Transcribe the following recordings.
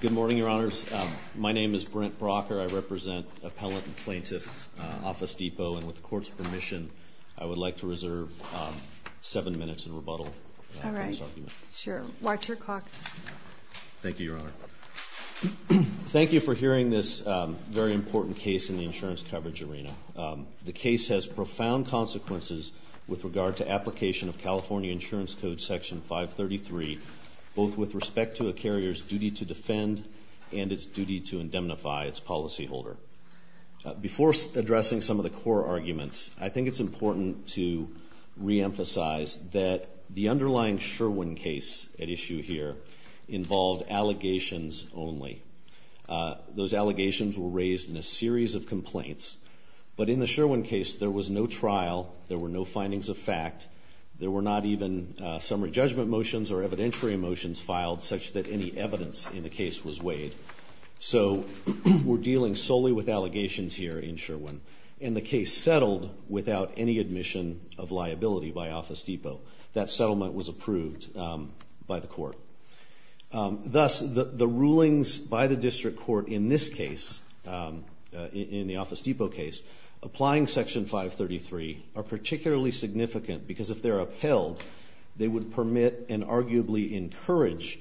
Good morning, Your Honors. My name is Brent Brocker. I represent Appellant and Plaintiff Office Depot, and with the Court's permission, I would like to reserve seven minutes in rebuttal on this argument. All right. Sure. Watch your clock. Thank you, Your Honor. Thank you for hearing this very important case in the insurance coverage arena. The application of California Insurance Code Section 533, both with respect to a carrier's duty to defend and its duty to indemnify its policyholder. Before addressing some of the core arguments, I think it's important to reemphasize that the underlying Sherwin case at issue here involved allegations only. Those allegations were raised in a series of complaints, but in the Sherwin case, there was no trial, there were no findings of fact, there were not even summary judgment motions or evidentiary motions filed such that any evidence in the case was weighed. So we're dealing solely with allegations here in Sherwin, and the case settled without any admission of liability by Office Depot. That settlement was approved by the Court. Thus, the rulings by the District Court in this case, in the Office Depot case, applying Section 533 are particularly significant because if they're upheld, they would permit and arguably encourage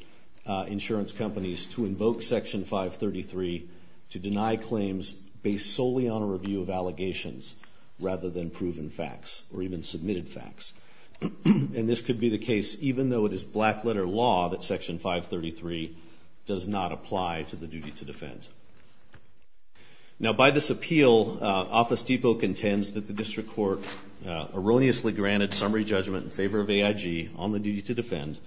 insurance companies to invoke Section 533 to deny claims based solely on a review of allegations rather than proven facts or even submitted facts. And this could be the case even though it is black letter law that Section 533 does not apply to the duty to defend. Now, by this appeal, Office Depot contends that the District Court erroneously granted summary judgment in favor of AIG on the duty to defend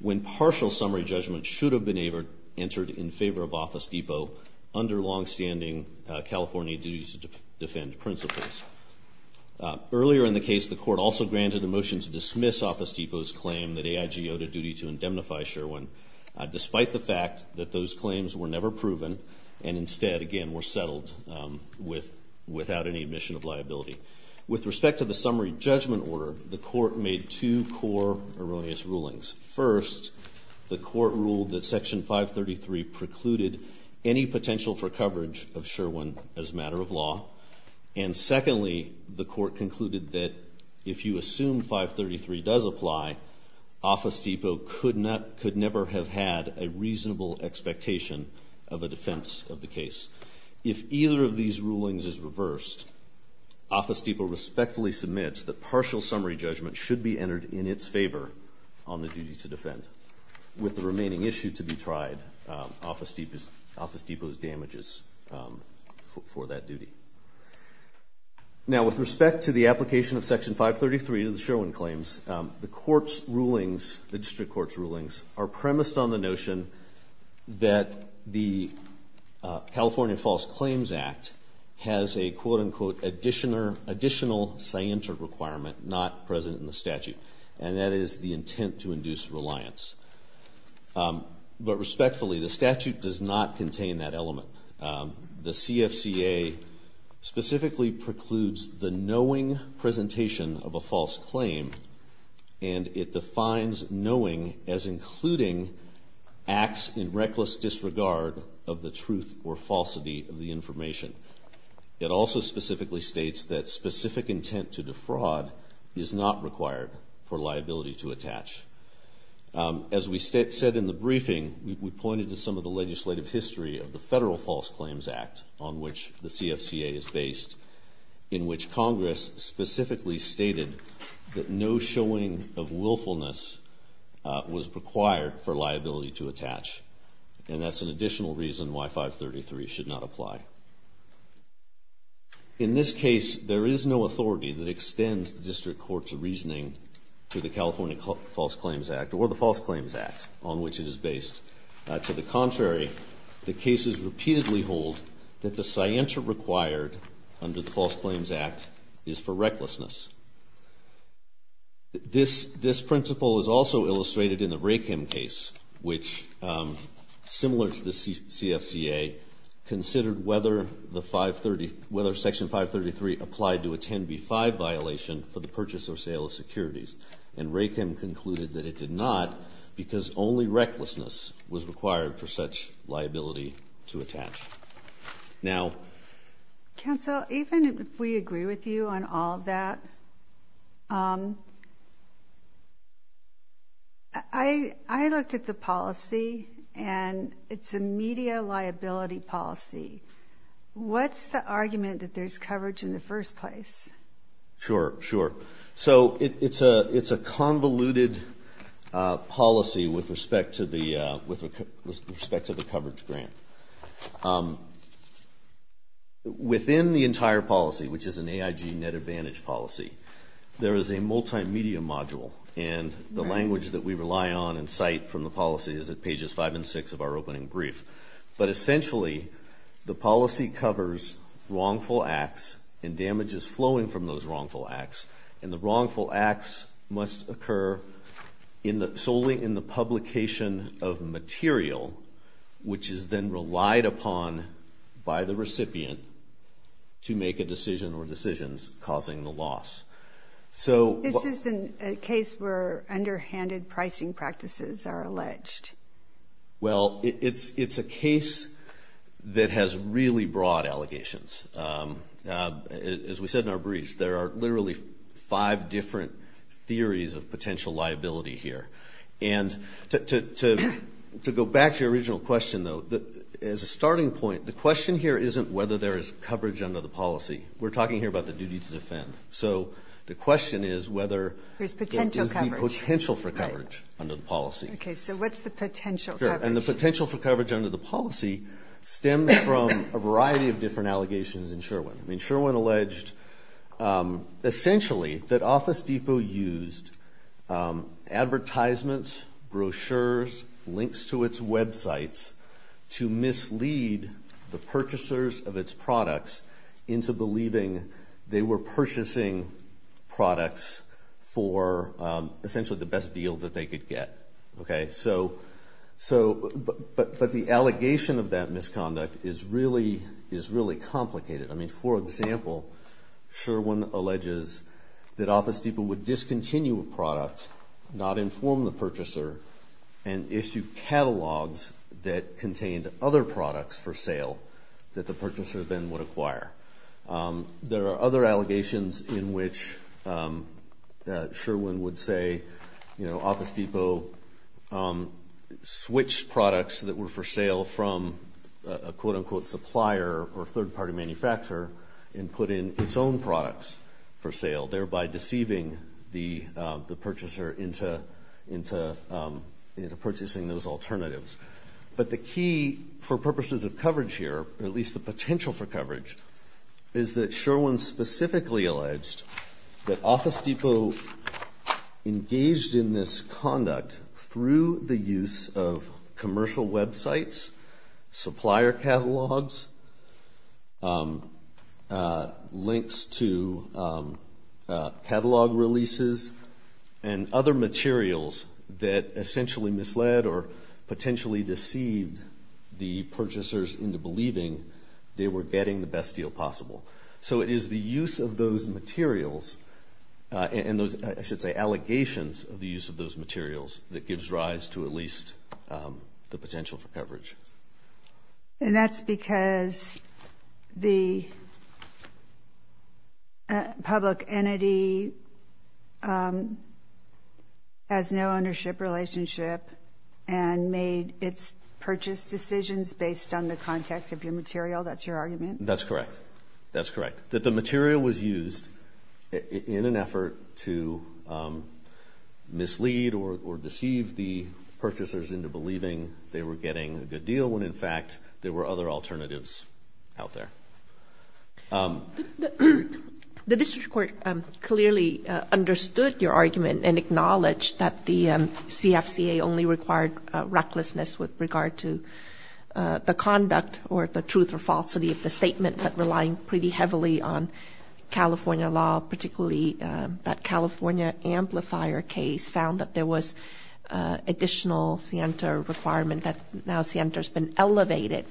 when partial summary judgment should have been entered in favor of Office Depot under longstanding California duty to defend principles. Earlier in the case, the Court also granted a motion to dismiss Office Depot's claim that And instead, again, we're settled without any admission of liability. With respect to the summary judgment order, the Court made two core erroneous rulings. First, the Court ruled that Section 533 precluded any potential for coverage of Sherwin as a matter of law. And secondly, the Court concluded that if you assume 533 does apply, Office Depot could never have had a reasonable expectation of a defense of the case. If either of these rulings is reversed, Office Depot respectfully submits that partial summary judgment should be entered in its favor on the duty to defend, with the remaining issue to be tried, Office Depot's damages for that duty. Now, with respect to the application of Section 533 to the Sherwin claims, the Court's rulings are premised on the notion that the California False Claims Act has a quote-unquote additional scienter requirement not present in the statute, and that is the intent to induce reliance. But respectfully, the statute does not contain that element. The CFCA specifically precludes the knowing presentation of a false claim, and it defines knowing as including acts in reckless disregard of the truth or falsity of the information. It also specifically states that specific intent to defraud is not required for liability to attach. As we said in the briefing, we pointed to some of the legislative history of the Federal False Claims Act, on which the CFCA is based, in which Congress specifically stated that no showing of willfulness was required for liability to attach, and that's an additional reason why 533 should not apply. In this case, there is no authority that extends the District Court's reasoning to the California False Claims Act, or the False Claims Act, on which it is based. To the contrary, the cases repeatedly hold that the scienter required under the False Claims Act only recklessness. This principle is also illustrated in the Rakem case, which, similar to the CFCA, considered whether Section 533 applied to a 10b-5 violation for the purchase or sale of securities. And Rakem concluded that it did not, because only recklessness was required for such liability to attach. Now... Counsel, even if we agree with you on all of that, I looked at the policy, and it's a media liability policy. What's the argument that there's coverage in the first place? Sure, sure. So it's a convoluted policy with respect to the coverage grant. Within the entire policy, which is an AIG net advantage policy, there is a multimedia module, and the language that we rely on and cite from the policy is at pages five and six of our opening brief. But essentially, the policy covers wrongful acts and damages flowing from those wrongful acts. And the wrongful acts must occur solely in the publication of material, which is then relied upon by the recipient to make a decision or decisions causing the loss. So... This isn't a case where underhanded pricing practices are alleged. Well, it's a case that has really broad allegations. As we said in our brief, there are literally five different theories of potential liability here. And to go back to your original question, though, as a starting point, the question here isn't whether there is coverage under the policy. We're talking here about the duty to defend. So the question is whether there is the potential for coverage under the policy. Okay, so what's the potential coverage? And the potential for coverage under the policy stems from a variety of different allegations in Sherwin. I mean, Sherwin alleged essentially that Office Depot used advertisements, brochures, links to its websites to mislead the purchasers of its products into believing they were purchasing products for essentially the best deal that they could get, okay? So, but the allegation of that misconduct is really complicated. I mean, for example, Sherwin alleges that Office Depot would discontinue a product, not inform the purchaser, and issue catalogs that contained other products for sale that the purchaser then would acquire. There are other allegations in which Sherwin would say, you know, Office Depot switched products that were for sale from a quote-unquote supplier or third-party manufacturer and put in its own products for sale, thereby deceiving the purchaser into purchasing those alternatives. But the key for purposes of coverage here, or at least the potential for coverage, is that Sherwin specifically alleged that Office Depot engaged in this conduct through the use of commercial websites, supplier catalogs, links to catalog releases, and other materials that essentially misled or potentially deceived the purchasers into believing they were getting the best deal possible. So it is the use of those materials and those, I should say, allegations of the use of those materials that gives rise to at least the potential for coverage. And that's because the public entity has no ownership relationship and made its purchase decisions based on the context of your material. That's your argument? That's correct. That's correct. That the material was used in an effort to mislead or deceive the purchasers into believing they were getting a good deal when, in fact, there were other alternatives out there? The district court clearly understood your argument and acknowledged that the CFCA only required recklessness with regard to the conduct or the truth or falsity of the statement, but relying pretty heavily on California law, particularly that California amplifier case found that there was additional scienter requirement that now scienter has been elevated.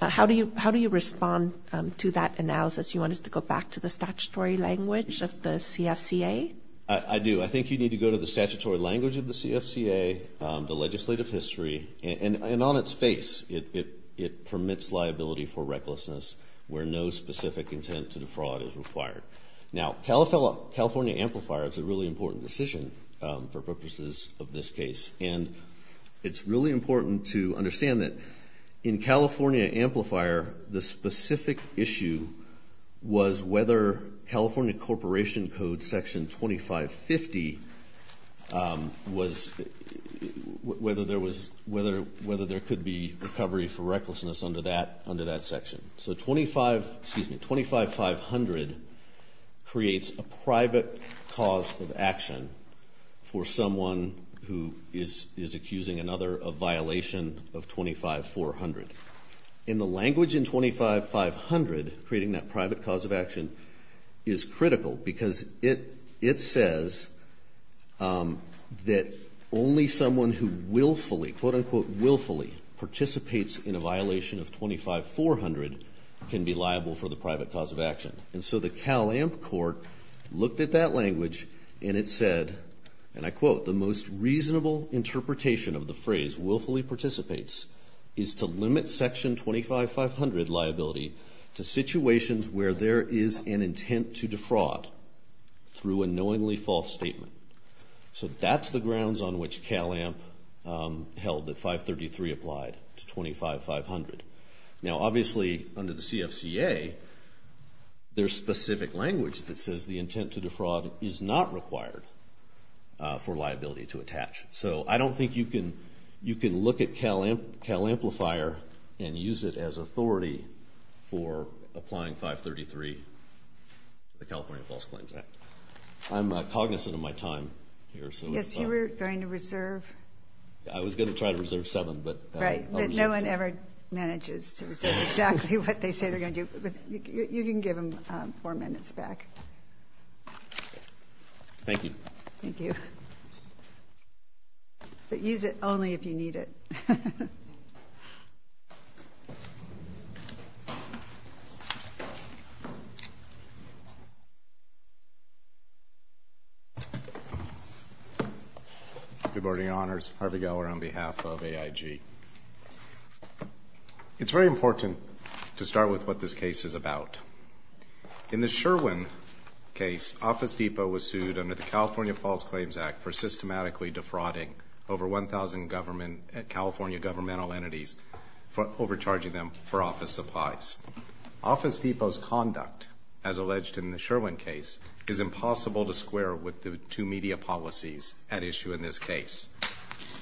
How do you respond to that analysis? You want us to go back to the statutory language of the CFCA? I do. I think you need to go to the statutory language of the CFCA, the legislative history, and on its face, it permits liability for recklessness where no specific intent to defraud is required. Now, California amplifier is a really important decision for purposes of this case. And it's really important to understand that in California amplifier, the specific issue was whether California Corporation Code Section 2550 was whether there could be recovery for recklessness under that section. So 25, excuse me, 25500 creates a private cause of action for someone who is accusing another of violation of 25400. In the language in 25500, creating that private cause of action is critical, because it says that only someone who willfully, quote unquote willfully, participates in a violation of 25400 can be liable for the private cause of action. And so the Cal Amp court looked at that language and it said, and I quote, the most reasonable interpretation of the phrase willfully participates is to limit section 25500 liability to situations where there is an intent to defraud through a knowingly false statement. So that's the grounds on which Cal Amp held that 533 applied to 25500. Now, obviously, under the CFCA, there's specific language that says the intent to defraud is not required for liability to attach. So I don't think you can look at Cal Amplifier and use it as authority for applying 533 to the California False Claims Act. I'm cognizant of my time here, so. Yes, you were going to reserve. I was going to try to reserve seven, but. Right, but no one ever manages to reserve exactly what they say they're going to do. You can give them four minutes back. Thank you. Thank you. But use it only if you need it. Good morning, your honors. Harvey Geller on behalf of AIG. It's very important to start with what this case is about. In the Sherwin case, Office Depot was sued under the California False Claims Act for systematically defrauding over 1,000 California governmental entities for overcharging them for office supplies. Office Depot's conduct, as alleged in the Sherwin case, is impossible to square with the two media policies at issue in this case.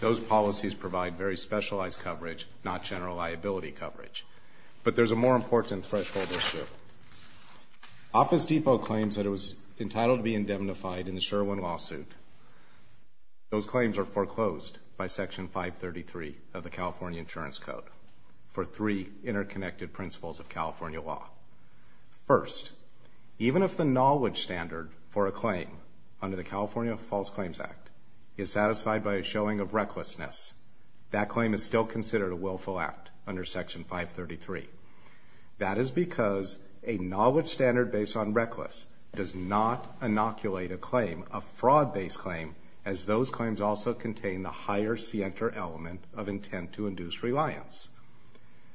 Those policies provide very specialized coverage, not general liability coverage. But there's a more important threshold issue. Office Depot claims that it was entitled to be indemnified in the Sherwin lawsuit. Those claims are foreclosed by Section 533 of the California Insurance Code for three interconnected principles of California law. First, even if the knowledge standard for a claim under the California False Claims Act is satisfied by a showing of recklessness, that claim is still considered a willful act under Section 533. That is because a knowledge standard based on reckless does not inoculate a claim, a fraud-based claim, as those claims also contain the higher C-enter element of intent to induce reliance.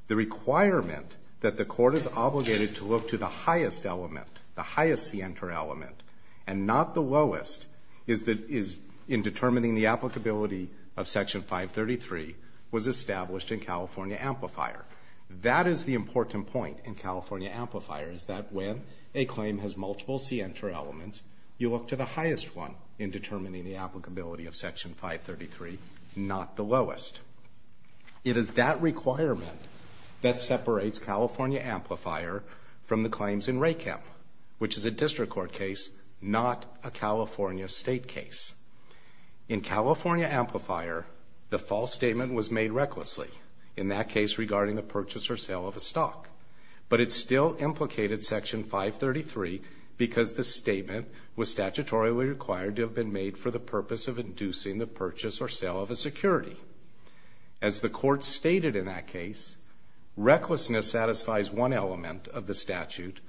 The requirement that the court is obligated to look to the highest element, the highest C-enter element, and not the lowest, is in determining the applicability of Section 533, was established in California Amplifier. That is the important point in California Amplifier, is that when a claim has multiple C-enter elements, you look to the highest one in determining the applicability of Section 533, not the lowest. It is that requirement that separates California Amplifier from the claims in RACAM, which is a district court case, not a California state case. In California Amplifier, the false statement was made recklessly, in that case regarding the purchase or sale of a stock. But it still implicated Section 533 because the statement was statutorily required to have been made for the purpose of inducing the purchase or sale of a security. As the court stated in that case, recklessness satisfies one element of the statute,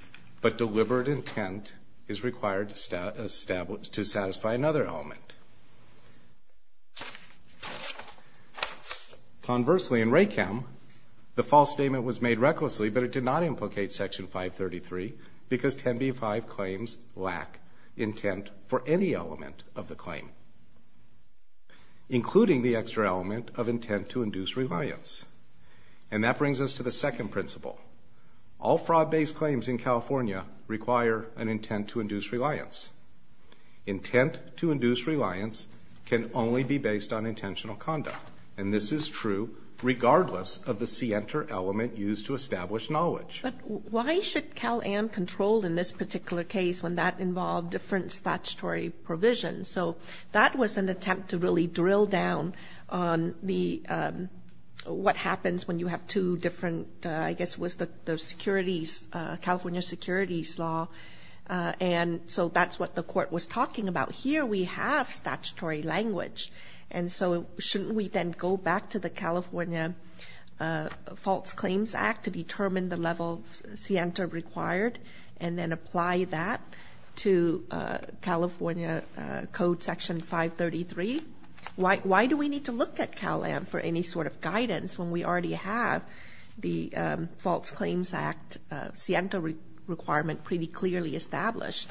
but deliberate intent is required to satisfy another element. Conversely, in RACAM, the false statement was made recklessly, but it did not implicate Section 533 because 10b-5 claims lack intent for any element of the claim, including the extra element of intent to induce reliance. And that brings us to the second principle. All fraud-based claims in California require an intent to induce reliance. Intent to induce reliance can only be based on intentional conduct. And this is true regardless of the C-enter element used to establish knowledge. But why should Cal-Am control in this particular case when that involved different statutory provisions? So that was an attempt to really drill down on what happens when you have two different, I guess it was the California Securities Law, and so that's what the court was talking about. Here we have statutory language, and so shouldn't we then go back to the California False Claims Act to determine the level of C-enter required, and then apply that to California Code Section 533? Why do we need to look at Cal-Am for any sort of guidance when we already have the False Claims Act C-enter requirement pretty clearly established?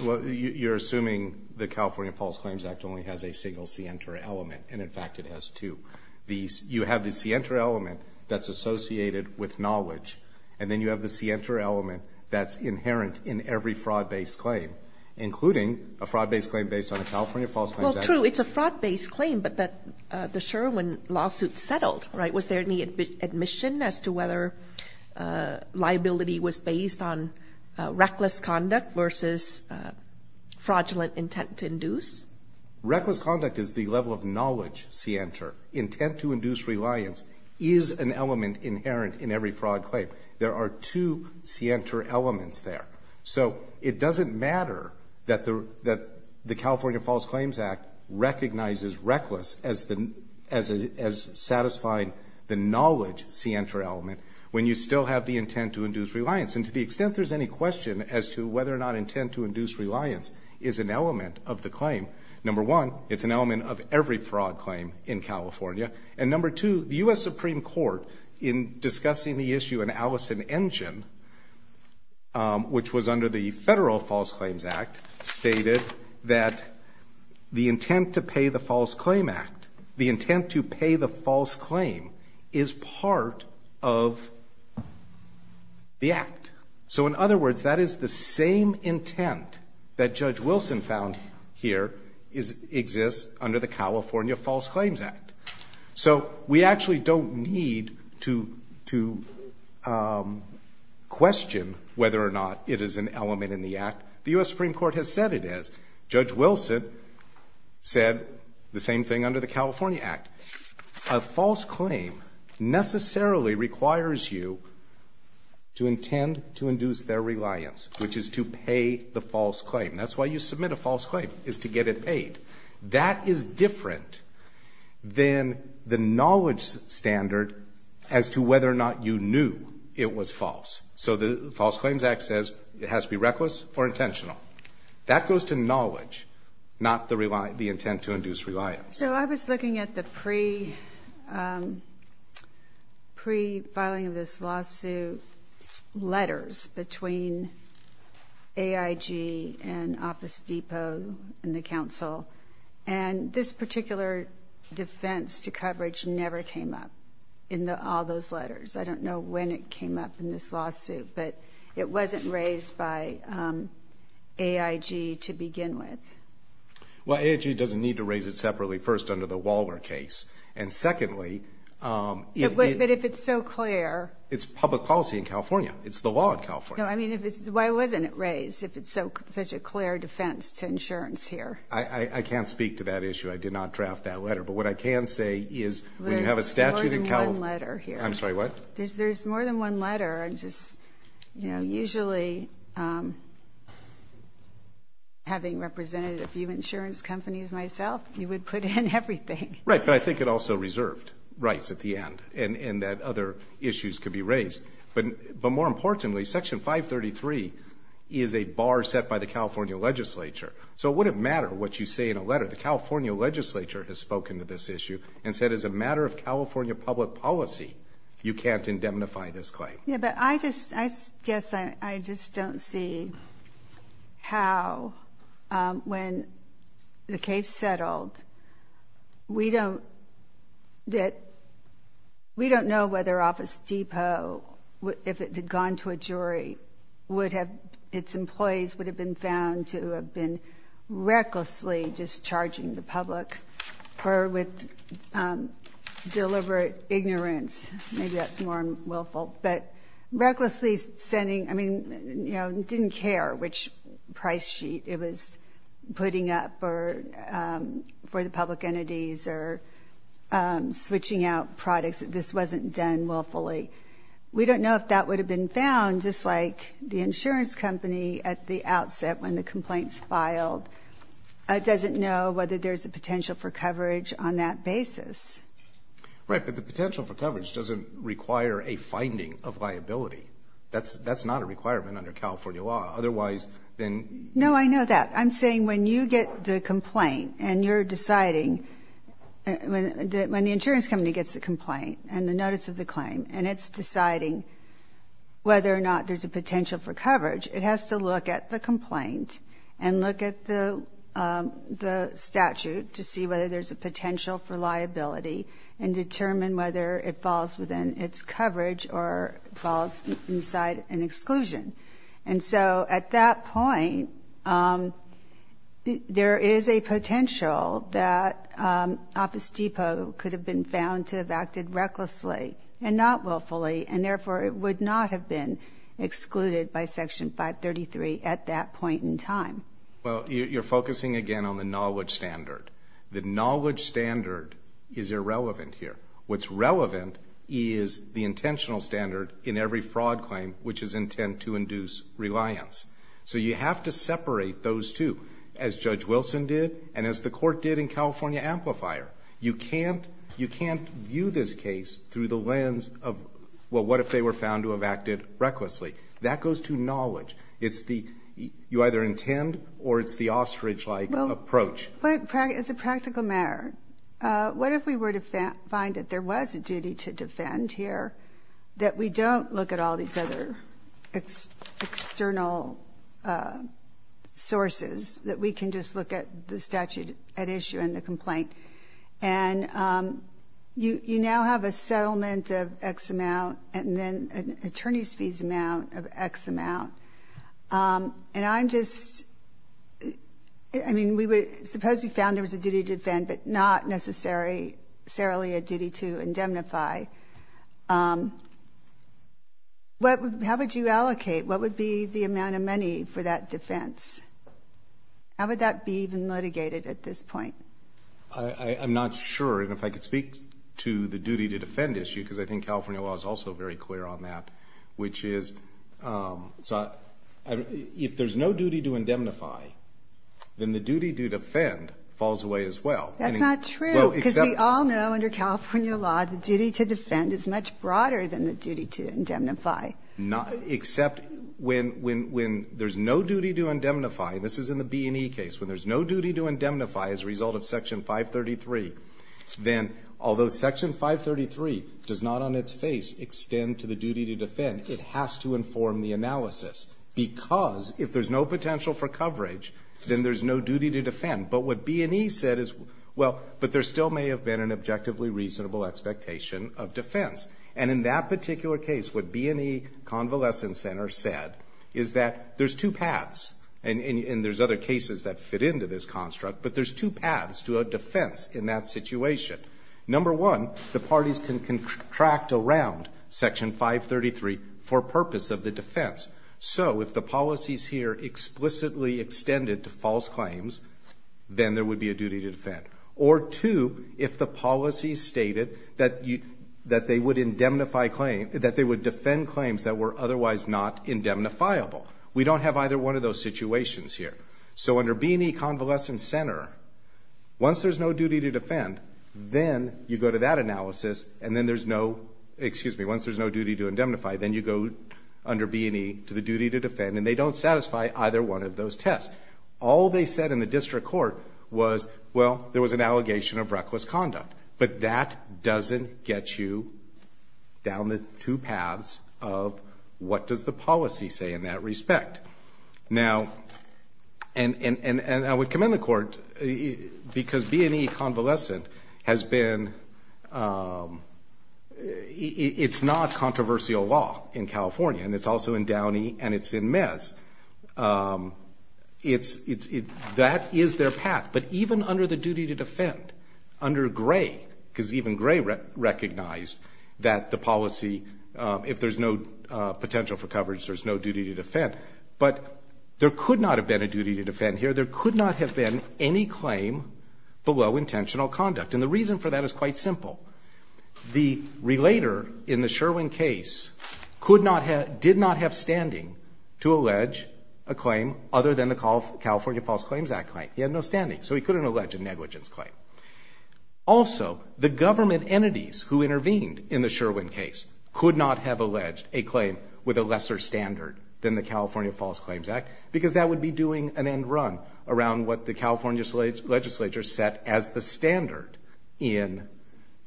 Well, you're assuming the California False Claims Act only has a single C-enter element, and in fact it has two. You have the C-enter element that's associated with knowledge, and then you have the C-enter element that's inherent in every fraud-based claim, including a fraud-based claim based on a California False Claims Act. Well, true, it's a fraud-based claim, but the Sherwin lawsuit settled, right? Was there any admission as to whether liability was based on reckless conduct versus fraudulent intent to induce? Reckless conduct is the level of knowledge C-enter. Intent to induce reliance is an element inherent in every fraud claim. There are two C-enter elements there. So it doesn't matter that the California False Claims Act recognizes reckless as satisfying the knowledge C-enter element, when you still have the intent to induce reliance. And to the extent there's any question as to whether or not intent to induce reliance is an element of the claim, number one, it's an element of every fraud claim in California. And number two, the U.S. Supreme Court, in discussing the issue in Allison-Engen, which was under the Federal False Claims Act, stated that the intent to pay the False Claim Act, the intent to pay the false claim, is part of the act. So in other words, that is the same intent that Judge Wilson found here exists under the California False Claims Act. So we actually don't need to question whether or not it is an element in the act, the U.S. Supreme Court has said it is. Judge Wilson said the same thing under the California Act. A false claim necessarily requires you to intend to induce their reliance, which is to pay the false claim. That's why you submit a false claim, is to get it paid. That is different than the knowledge standard as to whether or not you knew it was false. So the False Claims Act says it has to be reckless or intentional. That goes to knowledge, not the intent to induce reliance. So I was looking at the pre-filing of this lawsuit, letters between AIG and Office Depot and the council. And this particular defense to coverage never came up in all those letters. I don't know when it came up in this lawsuit, but it wasn't raised by AIG to begin with. Well, AIG doesn't need to raise it separately, first under the Waller case. And secondly, it's public policy in California. It's the law in California. No, I mean, why wasn't it raised if it's such a clear defense to insurance here? I can't speak to that issue. I did not draft that letter. But what I can say is, when you have a statute in California- There's more than one letter here. I'm sorry, what? There's more than one letter. I'm just, you know, usually having represented a few insurance companies myself, you would put in everything. Right, but I think it also reserved rights at the end, and that other issues could be raised. But more importantly, Section 533 is a bar set by the California legislature. So it wouldn't matter what you say in a letter. The California legislature has spoken to this issue and said as a matter of California public policy, you can't indemnify this claim. I guess I just don't see how, when the case settled, we don't know whether Office Depot, if it had gone to a jury, its employees would have been found to have been recklessly discharging the public or with deliberate ignorance. Maybe that's more willful. But recklessly sending, I mean, you know, didn't care which price sheet it was putting up for the public entities or switching out products. This wasn't done willfully. We don't know if that would have been found, just like the insurance company at the outset when the complaints filed doesn't know whether there's a potential for coverage on that basis. Right. But the potential for coverage doesn't require a finding of liability. That's not a requirement under California law. Otherwise, then... No, I know that. I'm saying when you get the complaint and you're deciding, when the insurance company gets the complaint and the notice of the claim and it's deciding whether or not there's a potential for coverage, it has to look at the complaint and look at the statute to see whether there's a potential for liability and determine whether it falls within its coverage or falls inside an exclusion. And so at that point, there is a potential that Office Depot could have been found to have acted recklessly and not willfully, and therefore it would not have been excluded Well, you're focusing again on the knowledge standard. The knowledge standard is irrelevant here. What's relevant is the intentional standard in every fraud claim, which is intent to induce reliance. So you have to separate those two, as Judge Wilson did and as the court did in California Amplifier. You can't view this case through the lens of, well, what if they were found to have acted recklessly? That goes to knowledge. It's the you either intend or it's the ostrich-like approach. Well, but as a practical matter, what if we were to find that there was a duty to defend here, that we don't look at all these other external sources, that we can just look at the statute at issue and the complaint, and you now have a settlement of X amount and then an attorney's fees amount of X amount. And I'm just, I mean, we would suppose you found there was a duty to defend, but not necessarily a duty to indemnify. How would you allocate? What would be the amount of money for that defense? How would that be even litigated at this point? I'm not sure. And if I could speak to the duty to defend issue, because I think California law is also very clear on that, which is, if there's no duty to indemnify, then the duty to defend falls away as well. That's not true. Because we all know under California law, the duty to defend is much broader than the duty to indemnify. Except when there's no duty to indemnify, this is in the B&E case, when there's no defense, then although Section 533 does not on its face extend to the duty to defend, it has to inform the analysis. Because if there's no potential for coverage, then there's no duty to defend. But what B&E said is, well, but there still may have been an objectively reasonable expectation of defense. And in that particular case, what B&E Convalescent Center said is that there's two paths, and there's other cases that fit into this construct, but there's two paths to a defense in that situation. Number one, the parties can contract around Section 533 for purpose of the defense. So if the policies here explicitly extended to false claims, then there would be a duty to defend. Or two, if the policy stated that they would indemnify claim – that they would defend claims that were otherwise not indemnifiable. We don't have either one of those situations here. So under B&E Convalescent Center, once there's no duty to defend, then you go to that analysis, and then there's no – excuse me, once there's no duty to indemnify, then you go under B&E to the duty to defend, and they don't satisfy either one of those tests. All they said in the district court was, well, there was an allegation of reckless conduct. But that doesn't get you down the two paths of what does the policy say in that respect. Now – and I would commend the court, because B&E Convalescent has been – it's not controversial law in California, and it's also in Downey and it's in Mez. It's – that is their path. But even under the duty to defend, under Gray, because even Gray recognized that the But there could not have been a duty to defend here. There could not have been any claim below intentional conduct. And the reason for that is quite simple. The relator in the Sherwin case could not have – did not have standing to allege a claim other than the California False Claims Act claim. He had no standing. So he couldn't allege a negligence claim. Also, the government entities who intervened in the Sherwin case could not have alleged a claim with a lesser standard than the California False Claims Act, because that would be doing an end run around what the California legislature set as the standard in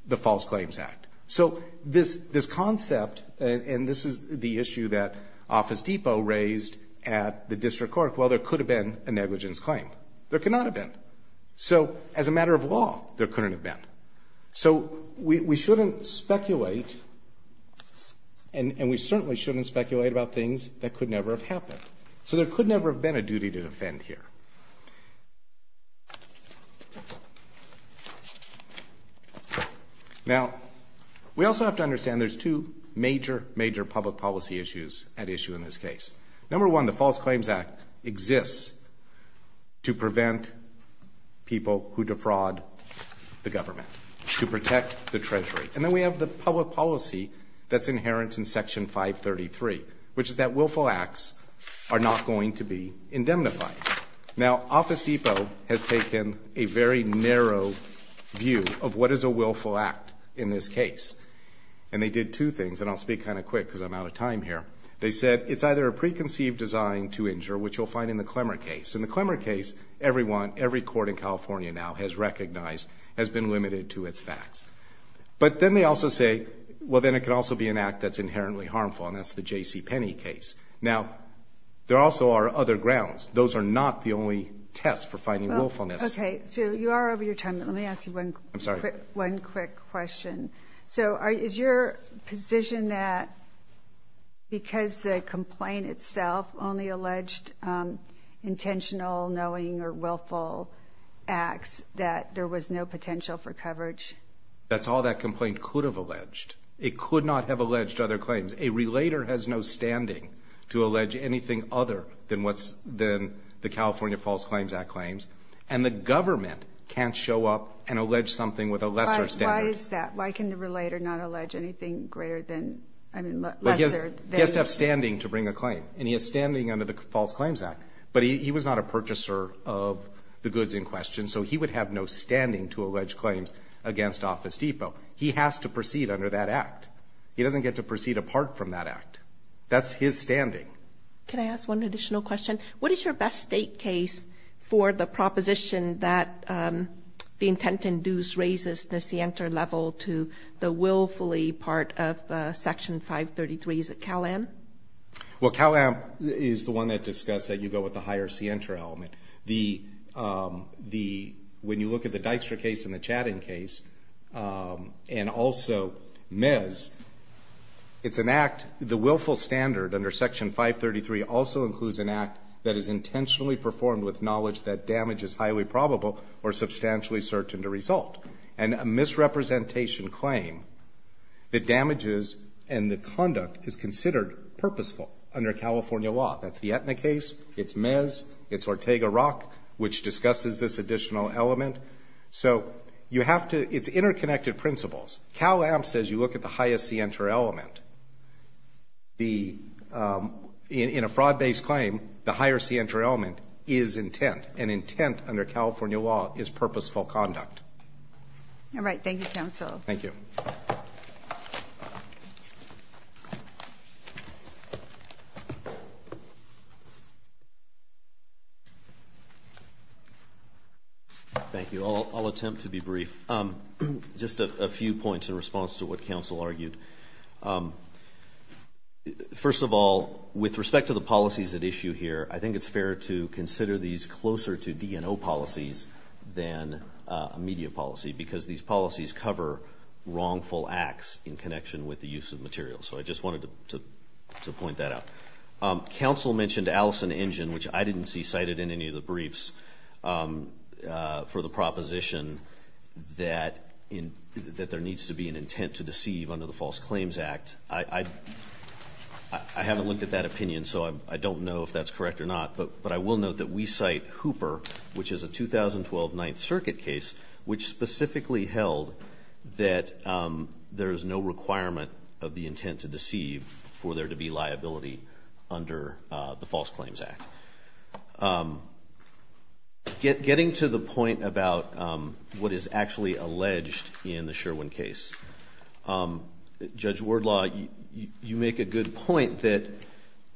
the False Claims Act. So this concept – and this is the issue that Office Depot raised at the district court – well, there could have been a negligence claim. There could not have been. So as a matter of law, there couldn't have been. So we shouldn't speculate, and we certainly shouldn't speculate about things that could never have happened. So there could never have been a duty to defend here. Now, we also have to understand there's two major, major public policy issues at issue in this case. Number one, the False Claims Act exists to prevent people who defraud the government, to protect the treasury. And then we have the public policy that's inherent in Section 533, which is that willful acts are not going to be indemnified. Now, Office Depot has taken a very narrow view of what is a willful act in this case. And they did two things, and I'll speak kind of quick because I'm out of time here. They said it's either a preconceived design to injure, which you'll find in the Clemmer case. In the Clemmer case, everyone, every court in California now has recognized has been limited to its facts. But then they also say, well, then it could also be an act that's inherently harmful, and that's the J.C. Penney case. Now, there also are other grounds. Those are not the only test for finding willfulness. Okay, so you are over your time. Let me ask you one quick question. So, is your position that because the complaint itself only alleged intentional, knowing, or willful acts, that there was no potential for coverage? That's all that complaint could have alleged. It could not have alleged other claims. A relator has no standing to allege anything other than the California False Claims Act claims. And the government can't show up and allege something with a lesser standard. Why is that? Why can the relator not allege anything greater than, I mean, lesser than? He has to have standing to bring a claim. And he has standing under the False Claims Act. But he was not a purchaser of the goods in question, so he would have no standing to allege claims against Office Depot. He has to proceed under that act. He doesn't get to proceed apart from that act. That's his standing. Can I ask one additional question? What is your best state case for the proposition that the intent-induced raises the scienter level to the willfully part of Section 533? Is it Cal-Am? Well, Cal-Am is the one that discussed that you go with the higher scienter element. The the when you look at the Dykstra case and the Chatting case, and also Mez, it's an act, the willful standard under Section 533 also includes an act that is intentionally performed with knowledge that damage is highly probable or substantially certain to result. And a misrepresentation claim, the damages and the conduct is considered purposeful under California law. That's the Aetna case. It's Mez. It's Ortega-Rock, which discusses this additional element. So you have to, it's interconnected principles. Cal-Am says you look at the highest scienter element. The in a fraud-based claim, the higher scienter element is intent, and intent under California law is purposeful conduct. All right. Thank you, counsel. Thank you. Thank you. I'll attempt to be brief. Just a few points in response to what counsel argued. First of all, with respect to the policies at issue here, I think it's fair to consider these closer to DNO policies than a media policy, because these policies cover wrongful acts in connection with the use of materials. So I just wanted to point that out. Counsel mentioned Allison Engine, which I didn't see cited in any of the briefs for the proposition that there needs to be an intent to deceive under the False Claims Act. I haven't looked at that opinion, so I don't know if that's correct or not. But I will note that we cite Hooper, which is a 2012 Ninth Circuit case, which specifically held that there is no requirement of the intent to deceive for there to be liability under the False Claims Act. Getting to the point about what is actually alleged in the Sherwin case, Judge Wardlaw, you make a good point that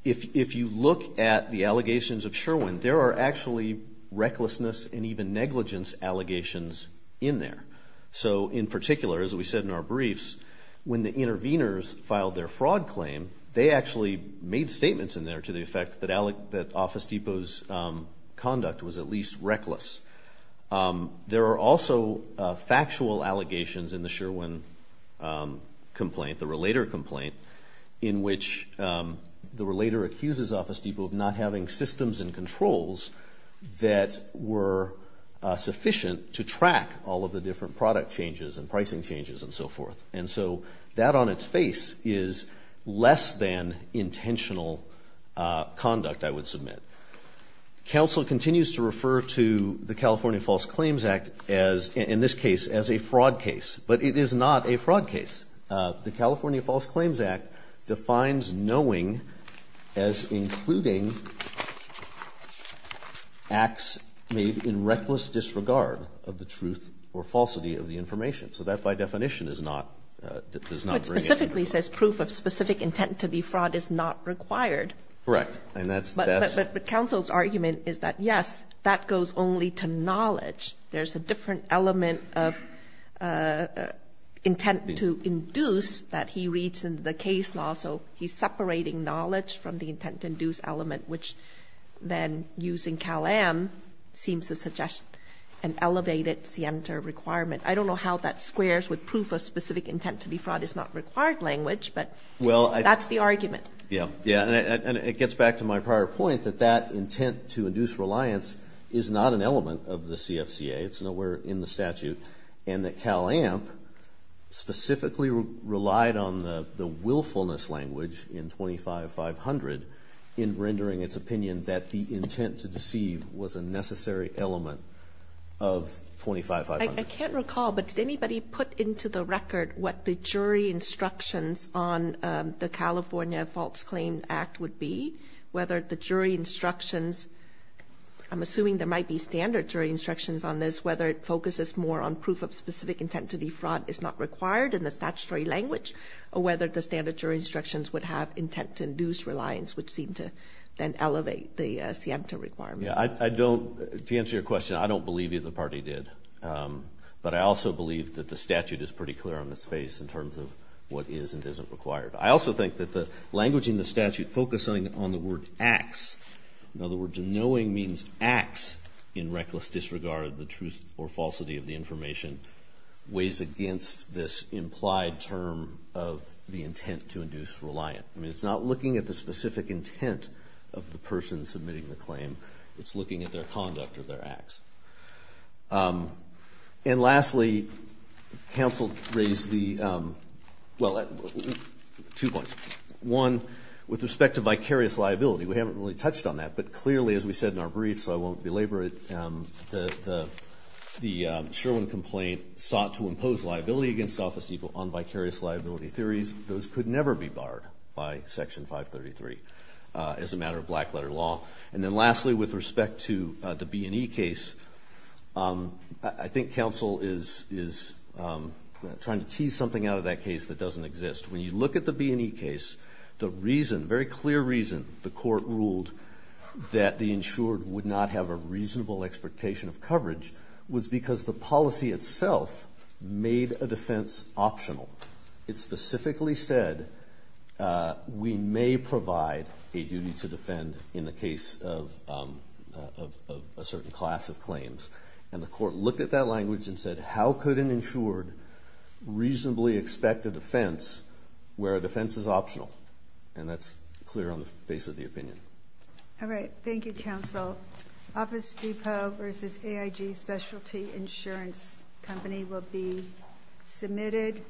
if you look at the allegations of Sherwin, there are actually recklessness and even negligence allegations in there. So in particular, as we said in our briefs, when the interveners filed their fraud claim, they actually made statements in there to the effect that Office Depot's conduct was at least reckless. There are also factual allegations in the Sherwin complaint, the Relator complaint, in which the Relator accuses Office Depot of not having systems and controls that were sufficient to track all of the different product changes and pricing changes and so forth. And so that on its face is less than intentional conduct, I would submit. Counsel continues to refer to the California False Claims Act as, in this case, as a fraud case, but it is not a fraud case. The California False Claims Act defines knowing as including acts made in reckless disregard of the truth or falsity of the information. So that, by definition, is not, does not bring anything. But specifically says proof of specific intent to defraud is not required. Correct. But counsel's argument is that yes, that goes only to knowledge. There's a different element of intent to induce that he reads in the case law, so he's separating knowledge from the intent to induce element, which then, using Cal-Am, seems to suggest an elevated scienter requirement. I don't know how that squares with proof of specific intent to defraud is not required language, but that's the argument. Yeah, yeah. And it gets back to my prior point that that intent to induce reliance is not an element of the CFCA. It's nowhere in the statute. And that Cal-Am specifically relied on the willfulness language in 25-500 in rendering its opinion that the intent to deceive was a necessary element of 25-500. I can't recall, but did anybody put into the record what the jury instructions on the California Faults Claim Act would be? Whether the jury instructions, I'm assuming there might be standard jury instructions on this, whether it focuses more on proof of specific intent to defraud is not required in the statutory language, or whether the standard jury instructions would have intent to induce reliance, which seemed to then elevate the scienter requirement. Yeah, I don't, to answer your question, I don't believe either party did. But I also believe that the statute is pretty clear on its face in terms of what is and isn't required. I also think that the language in the statute focusing on the word acts, in other words, knowing means acts in reckless disregard of the truth or falsity of the information, weighs against this implied term of the intent to induce reliance. I mean, it's not looking at the specific intent of the person submitting the claim. It's looking at their conduct or their acts. And lastly, counsel raised the, well, two points. One, with respect to vicarious liability, we haven't really touched on that, but clearly, as we said in our brief, so I won't belabor it, that the Sherwin complaint sought to impose liability against Office Depot on vicarious liability theories. Those could never be barred by Section 533 as a matter of black letter law. And then lastly, with respect to the B&E case, I think counsel is trying to tease something out of that case that doesn't exist. When you look at the B&E case, the reason, very clear reason, the court ruled that the insured would not have a reasonable expectation of coverage was because the policy itself made a defense optional. It specifically said we may provide a duty to defend in the case of a certain class of claims. And the court looked at that language and said, how could an insured reasonably expect a defense where a defense is optional? And that's clear on the face of the opinion. All right. Thank you, counsel. Office Depot versus AIG Specialty Insurance Company will be submitted.